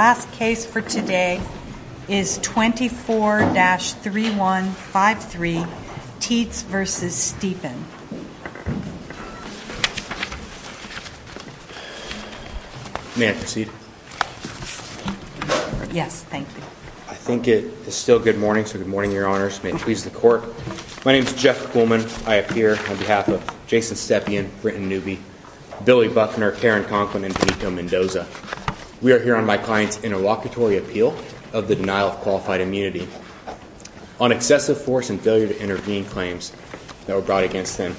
The last case for today is 24-3153, Teetz v. Stepien. May I proceed? Yes, thank you. I think it is still good morning, so good morning, Your Honors. May it please the Court. My name is Jeff Kuhlman. I appear on behalf of Jason Stepien, Britton Newby, Billy Buffner, Karen Conklin, and Benito Mendoza. We are here on my client's interlocutory appeal of the denial of qualified immunity. On excessive force and failure to intervene claims that were brought against them,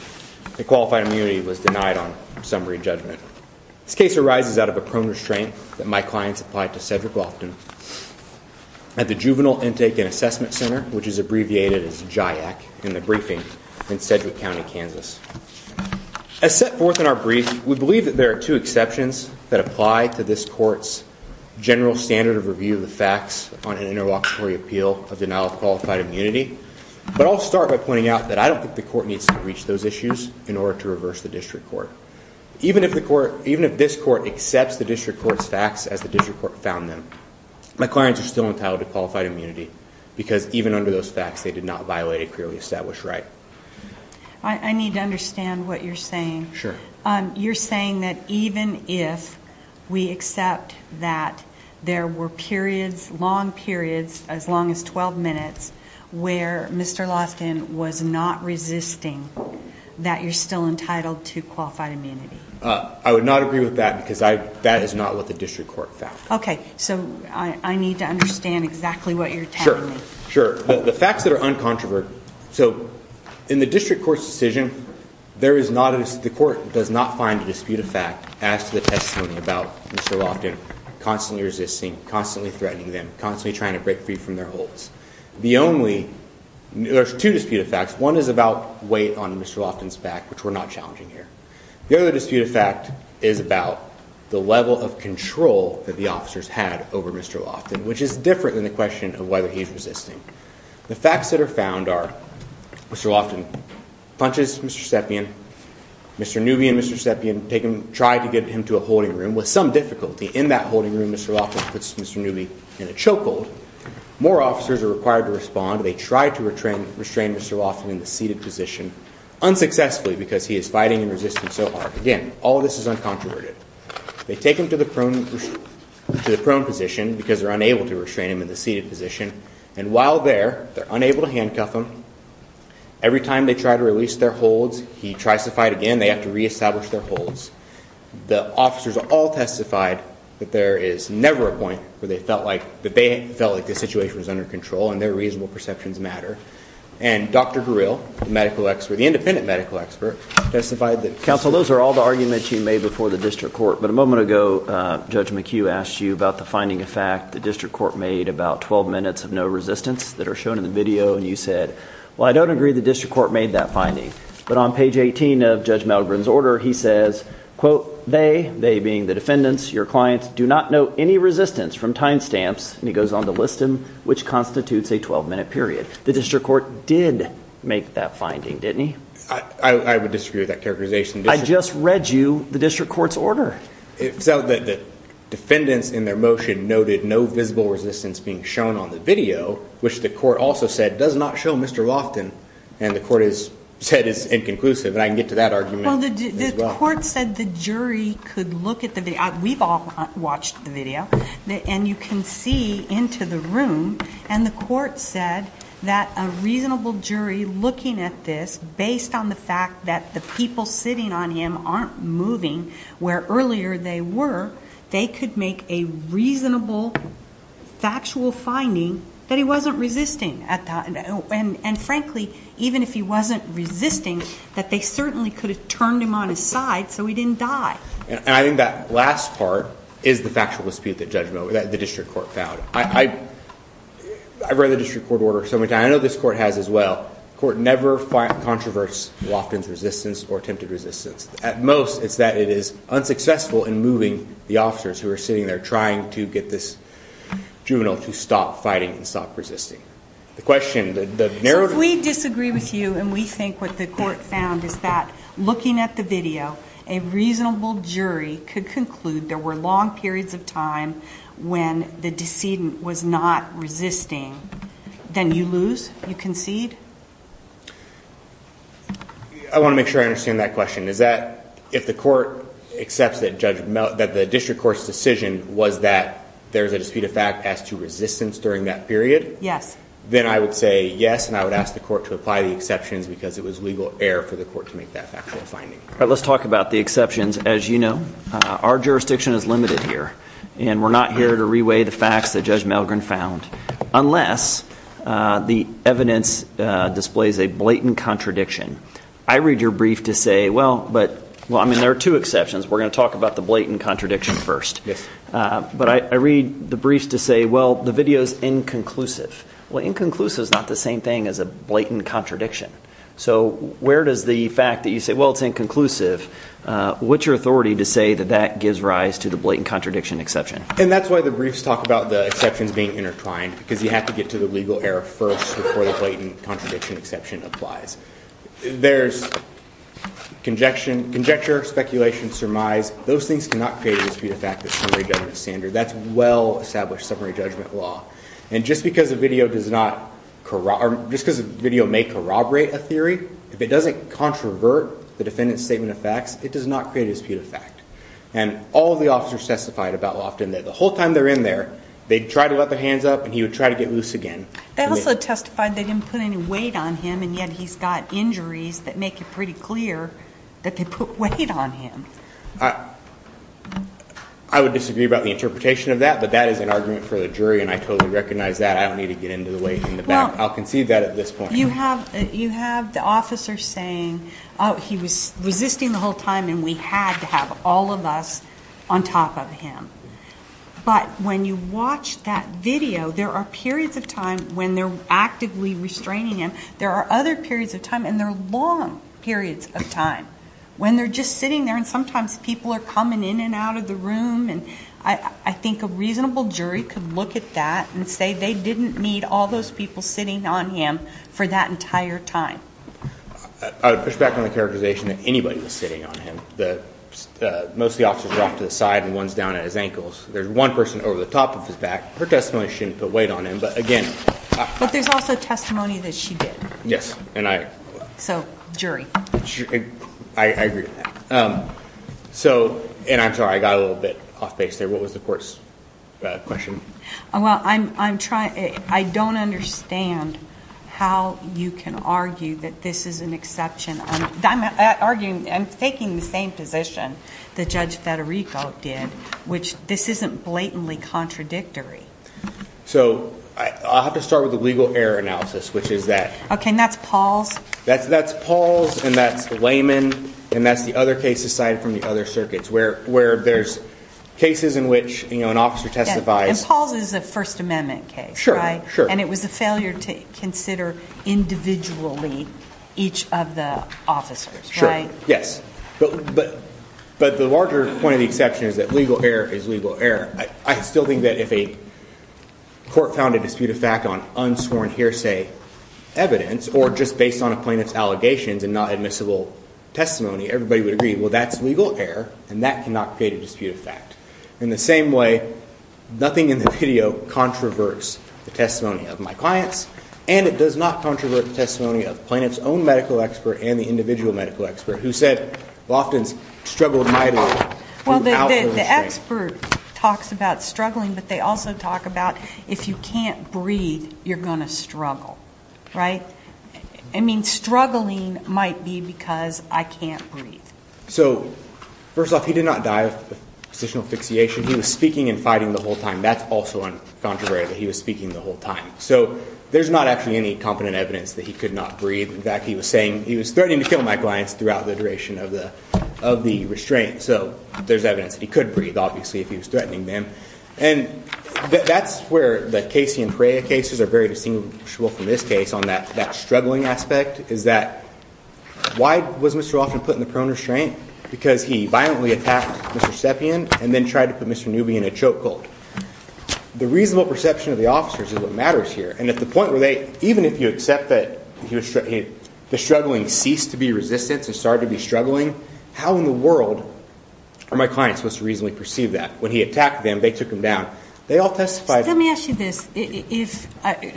the qualified immunity was denied on summary judgment. This case arises out of a prone restraint that my clients applied to Cedric Loftin at the Juvenile Intake and Assessment Center, which is abbreviated as JIAC, in the briefing in Cedric County, Kansas. As set forth in our brief, we believe that there are two exceptions that apply to this Court's general standard of review of the facts on an interlocutory appeal of denial of qualified immunity. But I'll start by pointing out that I don't think the Court needs to reach those issues in order to reverse the district court. Even if this Court accepts the district court's facts as the district court found them, my clients are still entitled to qualified immunity because even under those facts, they did not violate a clearly established right. I need to understand what you're saying. Sure. You're saying that even if we accept that there were periods, long periods, as long as 12 minutes, where Mr. Loftin was not resisting, that you're still entitled to qualified immunity? I would not agree with that because that is not what the district court found. Okay, so I need to understand exactly what you're telling me. Sure, sure. The facts that are uncontroverted, so in the district court's decision, the court does not find a dispute of fact as to the testimony about Mr. Loftin constantly resisting, constantly threatening them, constantly trying to break free from their holds. There's two dispute of facts. One is about weight on Mr. Loftin's back, which we're not challenging here. The other dispute of fact is about the level of control that the officers had over Mr. Loftin, which is different than the question of whether he's resisting. The facts that are found are Mr. Loftin punches Mr. Stepien. Mr. Newby and Mr. Stepien try to get him to a holding room. With some difficulty in that holding room, Mr. Loftin puts Mr. Newby in a chokehold. More officers are required to respond. They try to restrain Mr. Loftin in the seated position unsuccessfully because he is fighting and resisting so hard. Again, all of this is uncontroverted. They take him to the prone position because they're unable to restrain him in the seated position. And while there, they're unable to handcuff him. Every time they try to release their holds, he tries to fight again. They have to reestablish their holds. The officers all testified that there is never a point where they felt like the situation was under control and their reasonable perceptions matter. And Dr. Guril, the medical expert, the independent medical expert, testified that Counsel, those are all the arguments you made before the district court. But a moment ago, Judge McHugh asked you about the finding of fact. The district court made about 12 minutes of no resistance that are shown in the video. And you said, well, I don't agree the district court made that finding. But on page 18 of Judge Malgren's order, he says, quote, they, they being the defendants, your clients, do not know any resistance from time stamps. And he goes on to list them, which constitutes a 12-minute period. The district court did make that finding, didn't he? I would disagree with that characterization. I just read you the district court's order. So the defendants in their motion noted no visible resistance being shown on the video, which the court also said does not show Mr. Loftin. And the court has said it's inconclusive. And I can get to that argument as well. Well, the court said the jury could look at the video. We've all watched the video. And you can see into the room. And the court said that a reasonable jury looking at this, based on the fact that the people sitting on him aren't moving where earlier they were, they could make a reasonable factual finding that he wasn't resisting. And, frankly, even if he wasn't resisting, that they certainly could have turned him on his side so he didn't die. And I think that last part is the factual dispute that the district court found. I've read the district court order so many times. I know this court has as well. The court never controversed Loftin's resistance or attempted resistance. At most, it's that it is unsuccessful in moving the officers who are sitting there trying to get this juvenile to stop fighting and stop resisting. The question, the narrowed- If we disagree with you and we think what the court found is that looking at the video, a reasonable jury could conclude there were long periods of time when the decedent was not resisting. Then you lose? You concede? I want to make sure I understand that question. Is that if the court accepts that the district court's decision was that there's a dispute of fact as to resistance during that period? Yes. Then I would say yes, and I would ask the court to apply the exceptions because it was legal error for the court to make that factual finding. All right, let's talk about the exceptions. As you know, our jurisdiction is limited here. And we're not here to re-weigh the facts that Judge Milgren found unless the evidence displays a blatant contradiction. I read your brief to say, well, there are two exceptions. We're going to talk about the blatant contradiction first. But I read the briefs to say, well, the video is inconclusive. Well, inconclusive is not the same thing as a blatant contradiction. So where does the fact that you say, well, it's inconclusive, what's your authority to say that that gives rise to the blatant contradiction exception? And that's why the briefs talk about the exceptions being intertwined because you have to get to the legal error first before the blatant contradiction exception applies. There's conjecture, speculation, surmise. Those things cannot create a dispute of fact that's summary judgment standard. That's well-established summary judgment law. And just because a video may corroborate a theory, if it doesn't controvert the defendant's statement of facts, it does not create a dispute of fact. And all of the officers testified about Loftin that the whole time they're in there, they'd try to let their hands up and he would try to get loose again. They also testified they didn't put any weight on him and yet he's got injuries that make it pretty clear that they put weight on him. I would disagree about the interpretation of that, but that is an argument for the jury and I totally recognize that. I don't need to get into the weight in the back. I'll concede that at this point. You have the officer saying, oh, he was resisting the whole time and we had to have all of us on top of him. But when you watch that video, there are periods of time when they're actively restraining him. There are other periods of time, and there are long periods of time when they're just sitting there and sometimes people are coming in and out of the room and I think a reasonable jury could look at that and say they didn't need all those people sitting on him for that entire time. I would push back on the characterization that anybody was sitting on him. Most of the officers were off to the side and one's down at his ankles. There's one person over the top of his back. Her testimony shouldn't put weight on him. But there's also testimony that she did. Yes. So jury. I agree with that. And I'm sorry, I got a little bit off base there. What was the court's question? Well, I don't understand how you can argue that this is an exception. I'm taking the same position that Judge Federico did, which this isn't blatantly contradictory. So I'll have to start with the legal error analysis, which is that. Okay, and that's Paul's? That's Paul's, and that's Layman, and that's the other case aside from the other circuits where there's cases in which an officer testifies. And Paul's is a First Amendment case, right? Sure, sure. And it was a failure to consider individually each of the officers, right? Sure, yes. But the larger point of the exception is that legal error is legal error. I still think that if a court found a dispute of fact on unsworn hearsay evidence or just based on a plaintiff's allegations and not admissible testimony, everybody would agree, well, that's legal error, and that cannot create a dispute of fact. In the same way, nothing in the video controverses the testimony of my clients, and it does not controverse the testimony of the plaintiff's own medical expert and the individual medical expert who said, Loftin struggled mightily to outlaw the state. Well, the expert talks about struggling, but they also talk about if you can't breathe, you're going to struggle, right? I mean, struggling might be because I can't breathe. So first off, he did not die of positional asphyxiation. He was speaking and fighting the whole time. That's also uncontroversial, that he was speaking the whole time. So there's not actually any competent evidence that he could not breathe. In fact, he was saying he was threatening to kill my clients throughout the duration of the restraint. So there's evidence that he could breathe, obviously, if he was threatening them. And that's where the Casey and Perea cases are very distinguishable from this case on that struggling aspect is that why was Mr. Loftin put in the prone restraint? Because he violently attacked Mr. Stepien and then tried to put Mr. Newby in a choke hold. The reasonable perception of the officers is what matters here. And at the point where they, even if you accept that the struggling ceased to be resistance and started to be struggling, how in the world are my clients supposed to reasonably perceive that? When he attacked them, they took him down. They all testified. Let me ask you this.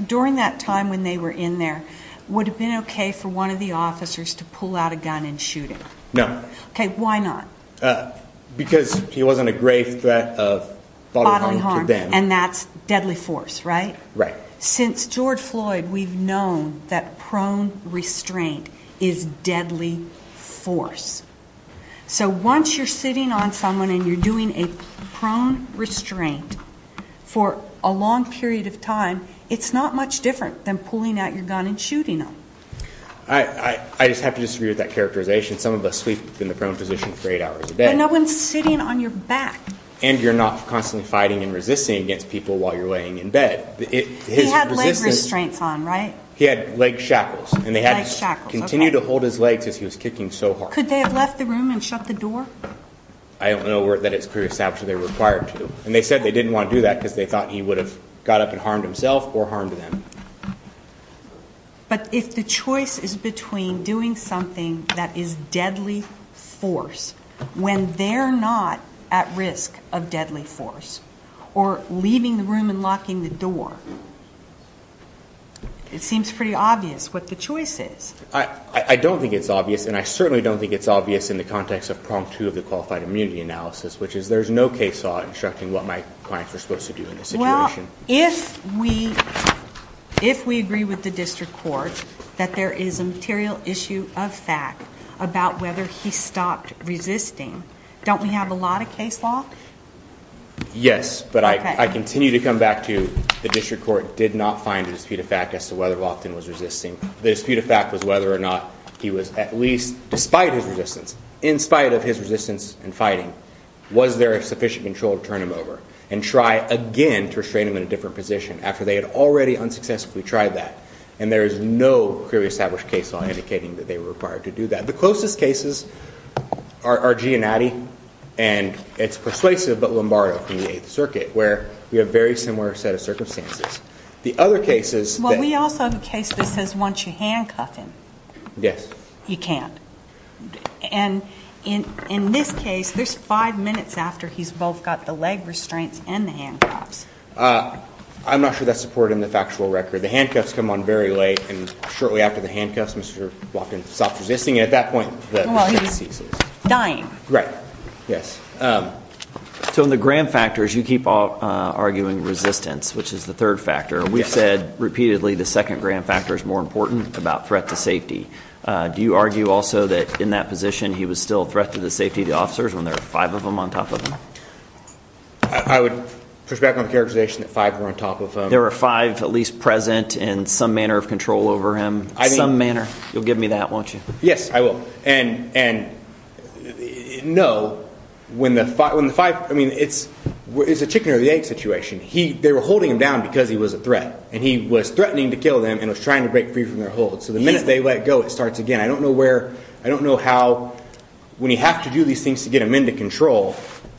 During that time when they were in there, would it have been okay for one of the officers to pull out a gun and shoot him? No. Okay, why not? Because he wasn't a grave threat of bodily harm to them. And that's deadly force, right? Right. Since George Floyd, we've known that prone restraint is deadly force. So once you're sitting on someone and you're doing a prone restraint for a long period of time, it's not much different than pulling out your gun and shooting them. I just have to disagree with that characterization. Some of us sleep in the prone position for eight hours a day. But no one's sitting on your back. And you're not constantly fighting and resisting against people while you're laying in bed. He had leg restraints on, right? He had leg shackles. Leg shackles, okay. He would continue to hold his legs as he was kicking so hard. Could they have left the room and shut the door? I don't know that it's pre-established that they were required to. And they said they didn't want to do that because they thought he would have got up and harmed himself or harmed them. But if the choice is between doing something that is deadly force when they're not at risk of deadly force or leaving the room and locking the door, it seems pretty obvious what the choice is. I don't think it's obvious. And I certainly don't think it's obvious in the context of prong two of the qualified immunity analysis, which is there's no case law instructing what my clients are supposed to do in this situation. Well, if we agree with the district court that there is a material issue of fact about whether he stopped resisting, don't we have a lot of case law? Yes, but I continue to come back to the district court did not find a dispute of fact as to whether Loftin was resisting. The dispute of fact was whether or not he was at least, despite his resistance, in spite of his resistance and fighting, was there sufficient control to turn him over and try again to restrain him in a different position after they had already unsuccessfully tried that. And there is no pre-established case law indicating that they were required to do that. The closest cases are Gianatti, and it's persuasive, but Lombardo from the Eighth Circuit, where we have a very similar set of circumstances. The other cases that – Well, we also have a case that says once you handcuff him – Yes. You can't. And in this case, there's five minutes after he's both got the leg restraints and the handcuffs. I'm not sure that's supported in the factual record. The handcuffs come on very late, and shortly after the handcuffs, Mr. Loftin stopped resisting. And at that point, the resistance ceases. Well, he was dying. Right. Yes. So in the Graham factors, you keep arguing resistance, which is the third factor. We've said repeatedly the second Graham factor is more important about threat to safety. Do you argue also that in that position he was still a threat to the safety of the officers when there are five of them on top of him? I would push back on the characterization that five were on top of him. There were five at least present in some manner of control over him, some manner. You'll give me that, won't you? Yes, I will. And no, when the five – I mean, it's a chicken or the egg situation. They were holding him down because he was a threat, and he was threatening to kill them and was trying to break free from their hold. So the minute they let go, it starts again. I don't know where – I don't know how – when you have to do these things to get him into control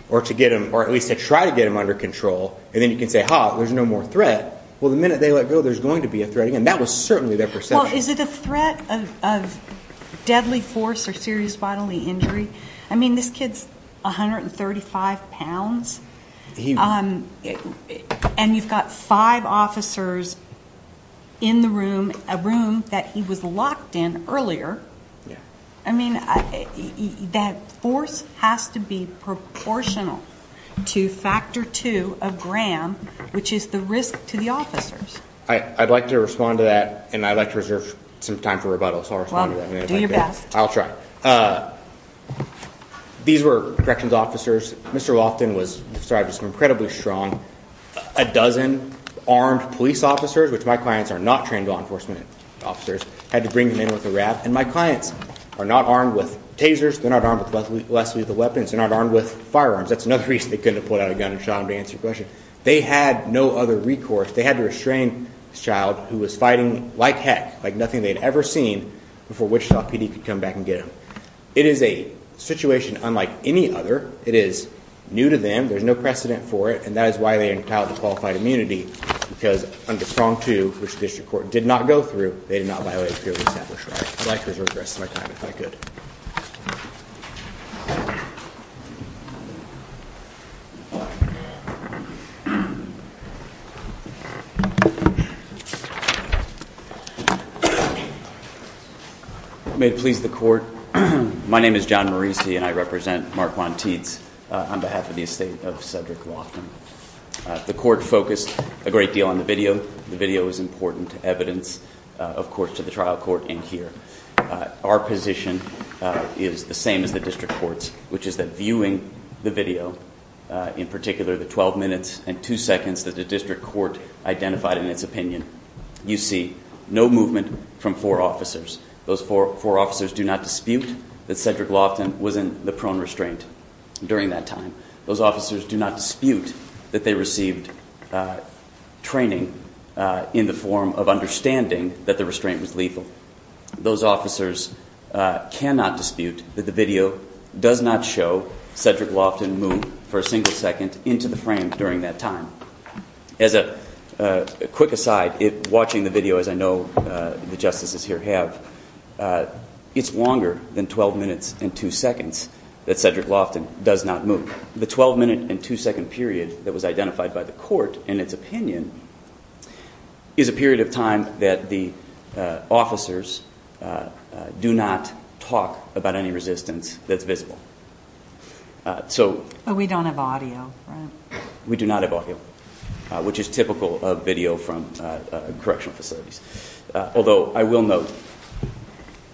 or at least to try to get him under control, and then you can say, ha, there's no more threat. Well, the minute they let go, there's going to be a threat again. That was certainly their perception. Well, is it a threat of deadly force or serious bodily injury? I mean, this kid's 135 pounds, and you've got five officers in the room, a room that he was locked in earlier. I mean, that force has to be proportional to factor two of gram, which is the risk to the officers. I'd like to respond to that, and I'd like to reserve some time for rebuttal. So I'll respond to that. Well, do your best. I'll try. These were corrections officers. Mr. Loftin was incredibly strong. A dozen armed police officers, which my clients are not trained law enforcement officers, had to bring him in with a rap, and my clients are not armed with tasers. They're not armed with less lethal weapons. They're not armed with firearms. That's another reason they couldn't have pulled out a gun and shot him to answer your question. They had no other recourse. They had to restrain this child who was fighting like heck, like nothing they'd ever seen, before Wichita PD could come back and get him. It is a situation unlike any other. It is new to them. There's no precedent for it, and that is why they are entitled to qualified immunity because under strong two, which the district court did not go through, they did not violate a purely established right. I'd like to reserve the rest of my time, if I could. May it please the Court, my name is John Marisi, and I represent Mark Juan Tietz on behalf of the estate of Cedric Loftin. The Court focused a great deal on the video. The video is important evidence, of course, to the trial court in here. Our position is the same as the district court's, which is that viewing the video, in particular the 12 minutes and 2 seconds that the district court identified in its opinion, you see no movement from four officers. Those four officers do not dispute that Cedric Loftin was in the prone restraint during that time. Those officers do not dispute that they received training in the form of understanding that the restraint was lethal. Those officers cannot dispute that the video does not show Cedric Loftin move for a single second into the frame during that time. As a quick aside, watching the video, as I know the justices here have, it's longer than 12 minutes and 2 seconds that Cedric Loftin does not move. The 12 minute and 2 second period that was identified by the Court in its opinion is a period of time that the officers do not talk about any resistance that's visible. But we don't have audio, right? We do not have audio, which is typical of video from correctional facilities. Although I will note,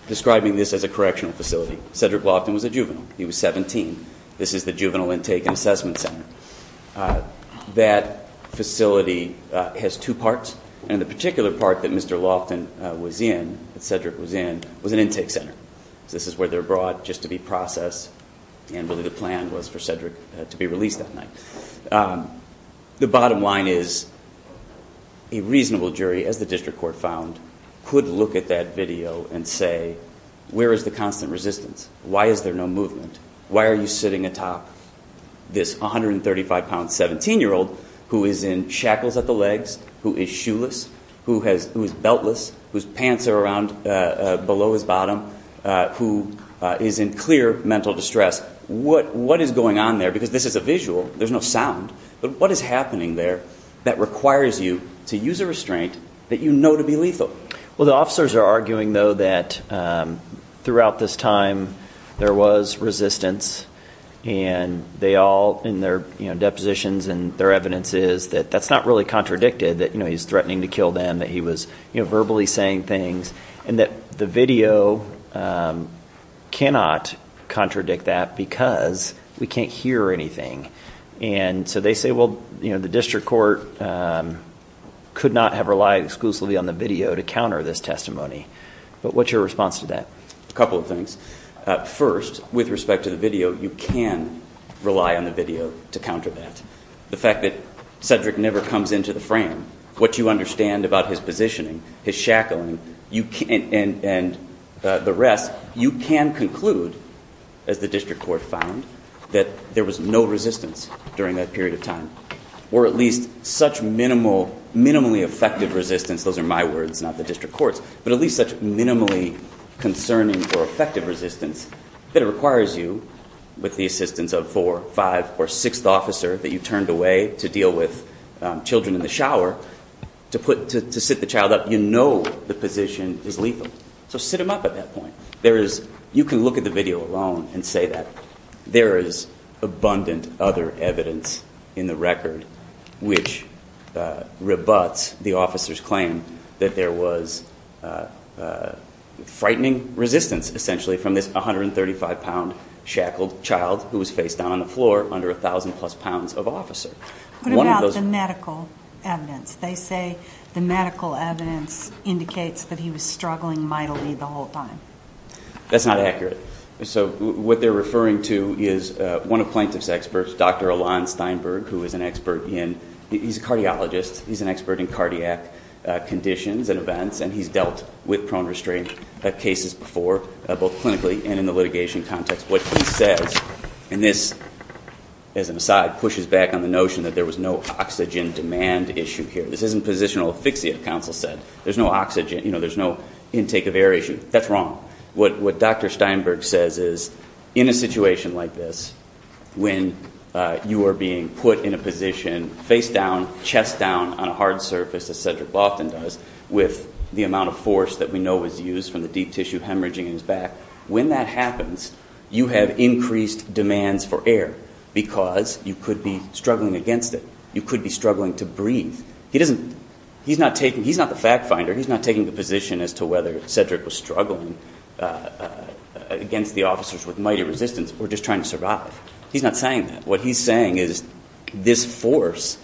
describing this as a correctional facility, Cedric Loftin was a juvenile. He was 17. This is the Juvenile Intake and Assessment Center. That facility has two parts, and the particular part that Mr. Loftin was in, that Cedric was in, was an intake center. This is where they're brought just to be processed, and really the plan was for Cedric to be released that night. The bottom line is a reasonable jury, as the district court found, could look at that video and say, where is the constant resistance? Why is there no movement? Why are you sitting atop this 135-pound 17-year-old who is in shackles at the legs, who is shoeless, who is beltless, whose pants are below his bottom, who is in clear mental distress. What is going on there? Because this is a visual. There's no sound. But what is happening there that requires you to use a restraint that you know to be lethal? Well, the officers are arguing, though, that throughout this time there was resistance, and they all, in their depositions and their evidences, that that's not really contradicted, that he's threatening to kill them, that he was verbally saying things, and that the video cannot contradict that because we can't hear anything. And so they say, well, the district court could not have relied exclusively on the video to counter this testimony. But what's your response to that? A couple of things. First, with respect to the video, you can rely on the video to counter that. The fact that Cedric never comes into the frame, what you understand about his positioning, his shackling, and the rest, you can conclude, as the district court found, that there was no resistance during that period of time, or at least such minimally effective resistance. Those are my words, not the district court's. But at least such minimally concerning or effective resistance that it requires you, with the assistance of four, five, or sixth officer that you turned away to deal with children in the shower, to sit the child up, you know the position is lethal. So sit him up at that point. You can look at the video alone and say that. There is abundant other evidence in the record which rebuts the officer's claim that there was frightening resistance, essentially, from this 135-pound shackled child who was facedown on the floor under 1,000-plus pounds of officer. What about the medical evidence? They say the medical evidence indicates that he was struggling mightily the whole time. That's not accurate. So what they're referring to is one of plaintiff's experts, Dr. Alon Steinberg, who is an expert in, he's a cardiologist, he's an expert in cardiac conditions and events, and he's dealt with prone restraint cases before, both clinically and in the litigation context. What he says, and this, as an aside, pushes back on the notion that there was no oxygen demand issue here. This isn't positional asphyxia, the counsel said. There's no oxygen, you know, there's no intake of air issue. That's wrong. What Dr. Steinberg says is in a situation like this, when you are being put in a position, facedown, chest down on a hard surface, as Cedric Loftin does, with the amount of force that we know was used from the deep tissue hemorrhaging in his back, when that happens, you have increased demands for air because you could be struggling against it. You could be struggling to breathe. He doesn't, he's not taking, he's not the fact finder. He's not taking the position as to whether Cedric was struggling against the officers with mighty resistance or just trying to survive. He's not saying that. What he's saying is this force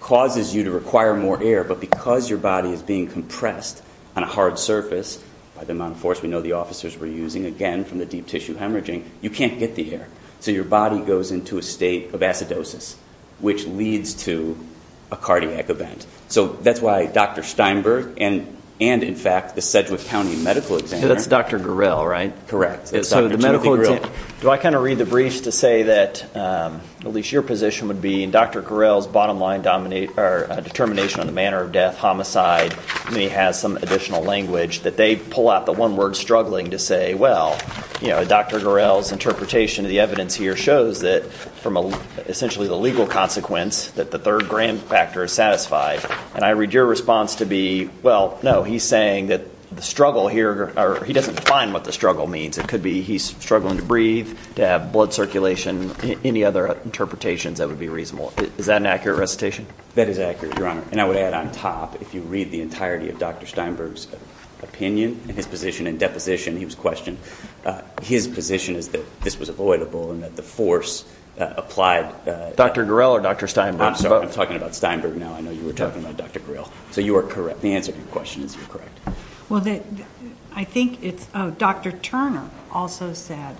causes you to require more air, but because your body is being compressed on a hard surface, by the amount of force we know the officers were using, again, from the deep tissue hemorrhaging, you can't get the air. So your body goes into a state of acidosis, which leads to a cardiac event. So that's why Dr. Steinberg and, in fact, the Sedgwick County medical examiner. That's Dr. Gurel, right? Correct. So the medical examiner. Do I kind of read the briefs to say that at least your position would be, in Dr. Gurel's bottom line determination on the manner of death, homicide, and he has some additional language, that they pull out the one word struggling to say, well, Dr. Gurel's interpretation of the evidence here shows that from essentially the legal consequence that the third grand factor is satisfied. And I read your response to be, well, no, he's saying that the struggle here, or he doesn't define what the struggle means. It could be he's struggling to breathe, to have blood circulation, any other interpretations that would be reasonable. Is that an accurate recitation? That is accurate, Your Honor. And I would add on top, if you read the entirety of Dr. Steinberg's opinion and his position and deposition, he was questioned, his position is that this was avoidable and that the force applied. Dr. Gurel or Dr. Steinberg? I'm sorry, I'm talking about Steinberg now. I know you were talking about Dr. Gurel. So you are correct. The answer to your question is you're correct. Well, I think it's Dr. Turner also said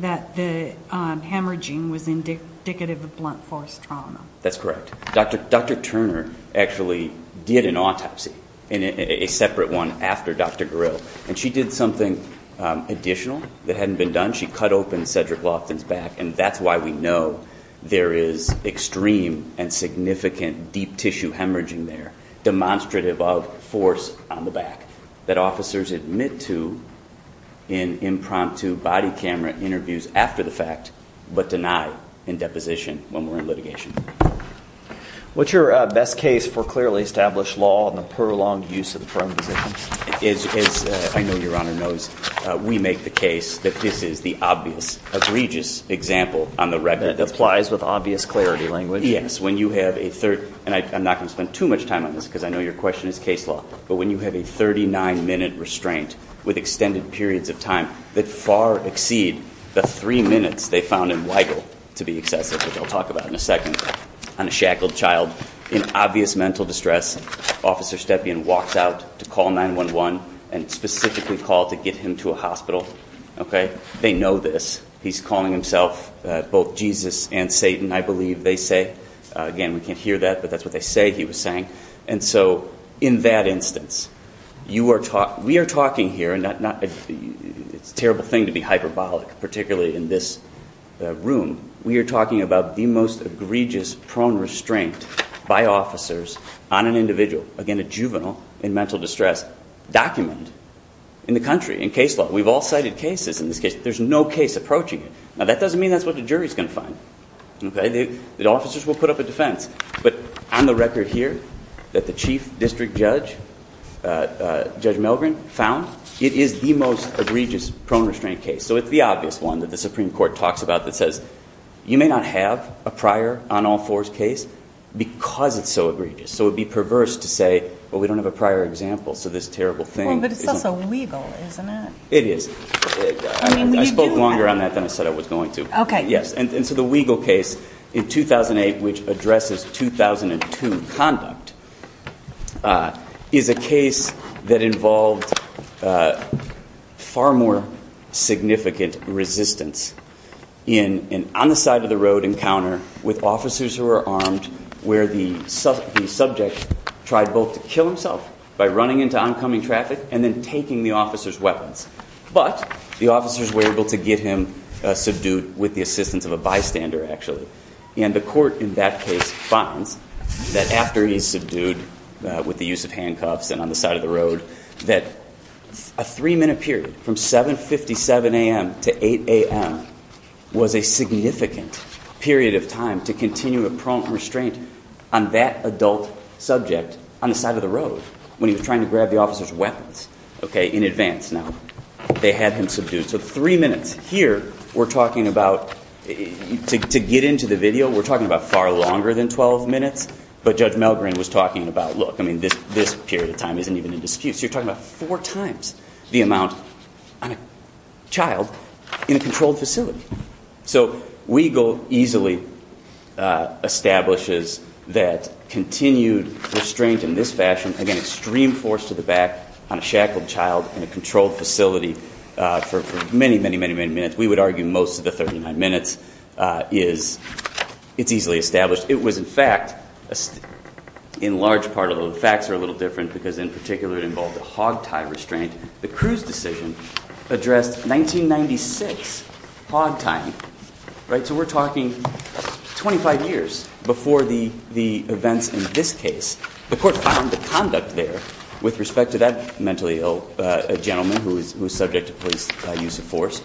that the hemorrhaging was indicative of blunt force trauma. That's correct. Dr. Turner actually did an autopsy, a separate one after Dr. Gurel, and she did something additional that hadn't been done. She cut open Cedric Loftin's back, and that's why we know there is extreme and significant deep tissue hemorrhaging there, demonstrative of force on the back, that officers admit to in impromptu body camera interviews after the fact but deny in deposition when we're in litigation. What's your best case for clearly established law and the prolonged use of the term position? As I know Your Honor knows, we make the case that this is the obvious, egregious example on the record. That applies with obvious clarity language. Yes. When you have a third, and I'm not going to spend too much time on this because I know your question is case law, but when you have a 39-minute restraint with extended periods of time that far exceed the three minutes they found in Weigel to be excessive, which I'll talk about in a second, on a shackled child, in obvious mental distress, Officer Stepien walks out to call 911 and specifically called to get him to a hospital. They know this. He's calling himself both Jesus and Satan, I believe they say. Again, we can't hear that, but that's what they say he was saying. And so in that instance, we are talking here, and it's a terrible thing to be hyperbolic, particularly in this room, we are talking about the most egregious, prone restraint by officers on an individual, again, a juvenile in mental distress, documented in the country in case law. We've all cited cases in this case. There's no case approaching it. Now, that doesn't mean that's what the jury is going to find. The officers will put up a defense. But on the record here that the chief district judge, Judge Milgren, found, it is the most egregious prone restraint case. So it's the obvious one that the Supreme Court talks about that says, you may not have a prior on all fours case because it's so egregious. So it would be perverse to say, well, we don't have a prior example, so this terrible thing. Well, but it's also Weigel, isn't it? It is. I spoke longer on that than I said I was going to. Okay. Yes, and so the Weigel case in 2008, which addresses 2002 conduct, is a case that involved far more significant resistance in an on-the-side-of-the-road encounter with officers who are armed where the subject tried both to kill himself by running into oncoming traffic and then taking the officer's weapons. But the officers were able to get him subdued with the assistance of a bystander, actually. And the court in that case finds that after he's subdued with the use of handcuffs and on the side of the road, that a three-minute period from 7.57 a.m. to 8 a.m. was a significant period of time to continue a prone restraint on that adult subject on the side of the road when he was trying to grab the officer's weapons, okay, in advance. Now, they had him subdued. So three minutes. Here, we're talking about, to get into the video, we're talking about far longer than 12 minutes. But Judge Melgren was talking about, look, I mean, this period of time isn't even in dispute. So you're talking about four times the amount on a child in a controlled facility. So Weigel easily establishes that continued restraint in this fashion, again, extreme force to the back on a shackled child in a controlled facility for many, many, many, many minutes. We would argue most of the 39 minutes is easily established. It was, in fact, in large part, although the facts are a little different because in particular it involved a hog tie restraint, the Cruz decision addressed 1996 hog tying, right? So we're talking 25 years before the events in this case. The court found the conduct there with respect to that mentally ill gentleman who was subject to police use of force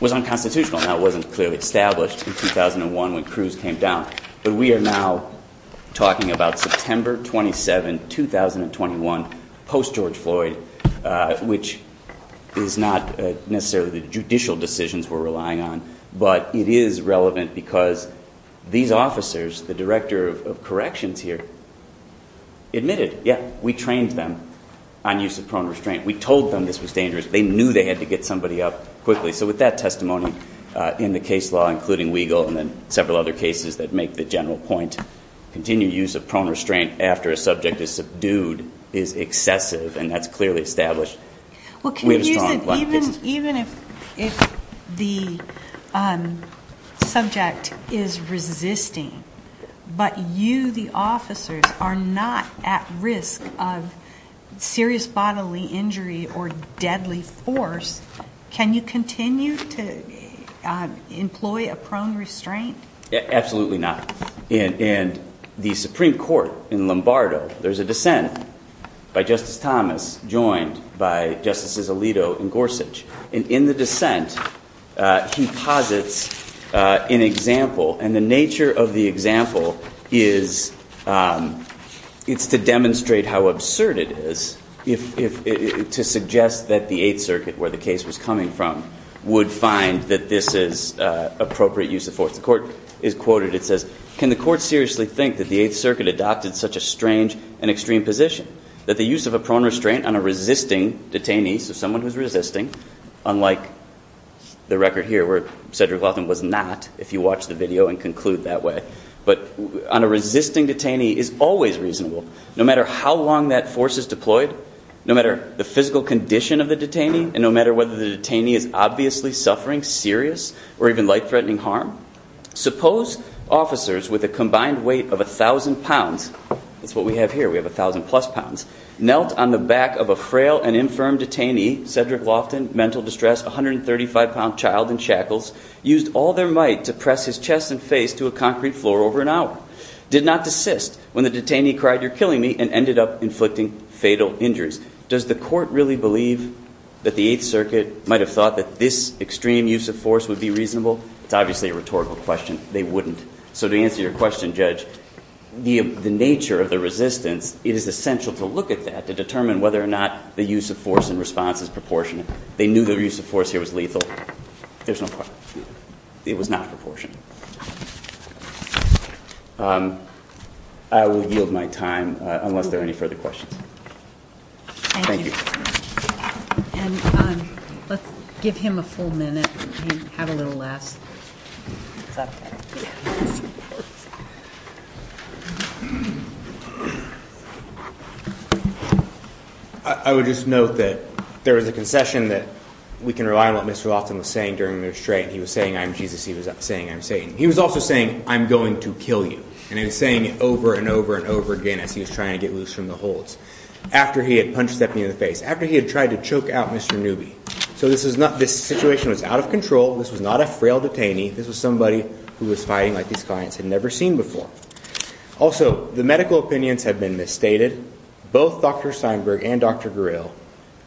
was unconstitutional. That wasn't clearly established in 2001 when Cruz came down. But we are now talking about September 27, 2021, post-George Floyd, which is not necessarily the judicial decisions we're relying on, but it is relevant because these officers, the director of corrections here, admitted, yeah, we trained them on use of prone restraint. We told them this was dangerous. They knew they had to get somebody up quickly. So with that testimony in the case law, including Weigel and then several other cases that make the general point, continued use of prone restraint after a subject is subdued is excessive, and that's clearly established. Even if the subject is resisting, but you, the officers, are not at risk of serious bodily injury or deadly force, can you continue to employ a prone restraint? Absolutely not. And the Supreme Court in Lombardo, there's a dissent by Justice Thomas joined by Justices Alito and Gorsuch. And in the dissent, he posits an example. And the nature of the example is it's to demonstrate how absurd it is to suggest that the Eighth Circuit, where the case was coming from, would find that this is appropriate use of force. The court is quoted. It says, can the court seriously think that the Eighth Circuit adopted such a strange and extreme position, that the use of a prone restraint on a resisting detainee, so someone who's resisting, unlike the record here where Cedric Laughton was not, if you watch the video and conclude that way, but on a resisting detainee is always reasonable, no matter how long that force is deployed, no matter the physical condition of the detainee, and no matter whether the detainee is obviously suffering serious or even life-threatening harm? Suppose officers with a combined weight of 1,000 pounds, that's what we have here, we have 1,000-plus pounds, knelt on the back of a frail and infirm detainee, Cedric Laughton, mental distress, 135-pound child in shackles, used all their might to press his chest and face to a concrete floor over an hour, did not desist when the detainee cried, you're killing me, and ended up inflicting fatal injuries. Does the court really believe that the Eighth Circuit might have thought that this extreme use of force would be reasonable? It's obviously a rhetorical question. They wouldn't. So to answer your question, Judge, the nature of the resistance, it is essential to look at that, to determine whether or not the use of force in response is proportionate. They knew their use of force here was lethal. There's no question. It was not proportionate. I will yield my time unless there are any further questions. Thank you. And let's give him a full minute and have a little laugh. I would just note that there was a concession that we can rely on what Mr. Laughton was saying during the restraint. He was saying, I'm Jesus. He was saying, I'm Satan. He was also saying, I'm going to kill you. And he was saying it over and over and over again as he was trying to get loose from the holds. After he had punched Stephanie in the face, after he had tried to choke out Mr. Newby. So this situation was out of control. This was not a frail detainee. This was somebody who was fighting like these clients had never seen before. Also, the medical opinions have been misstated. Both Dr. Steinberg and Dr. Guril,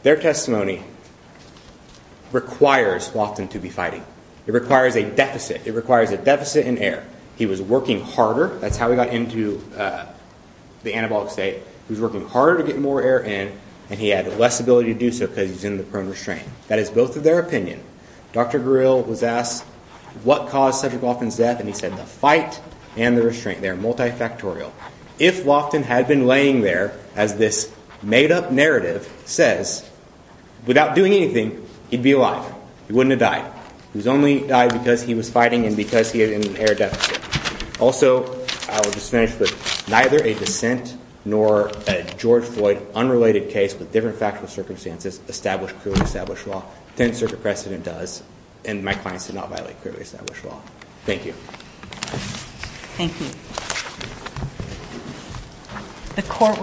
their testimony requires Laughton to be fighting. It requires a deficit. It requires a deficit in air. He was working harder. That's how he got into the anabolic state. He was working harder to get more air in, and he had less ability to do so because he was in the prone restraint. That is both of their opinion. Dr. Guril was asked, what caused Cedric Laughton's death? And he said, the fight and the restraint. They are multifactorial. If Laughton had been laying there, as this made-up narrative says, without doing anything, he'd be alive. He wouldn't have died. He only died because he was fighting and because he had an air deficit. Also, I will just finish with, neither a dissent nor a George Floyd unrelated case with different factual circumstances established cruelly established law. Tenth Circuit precedent does, and my clients did not violate cruelly established law. Thank you. Thank you.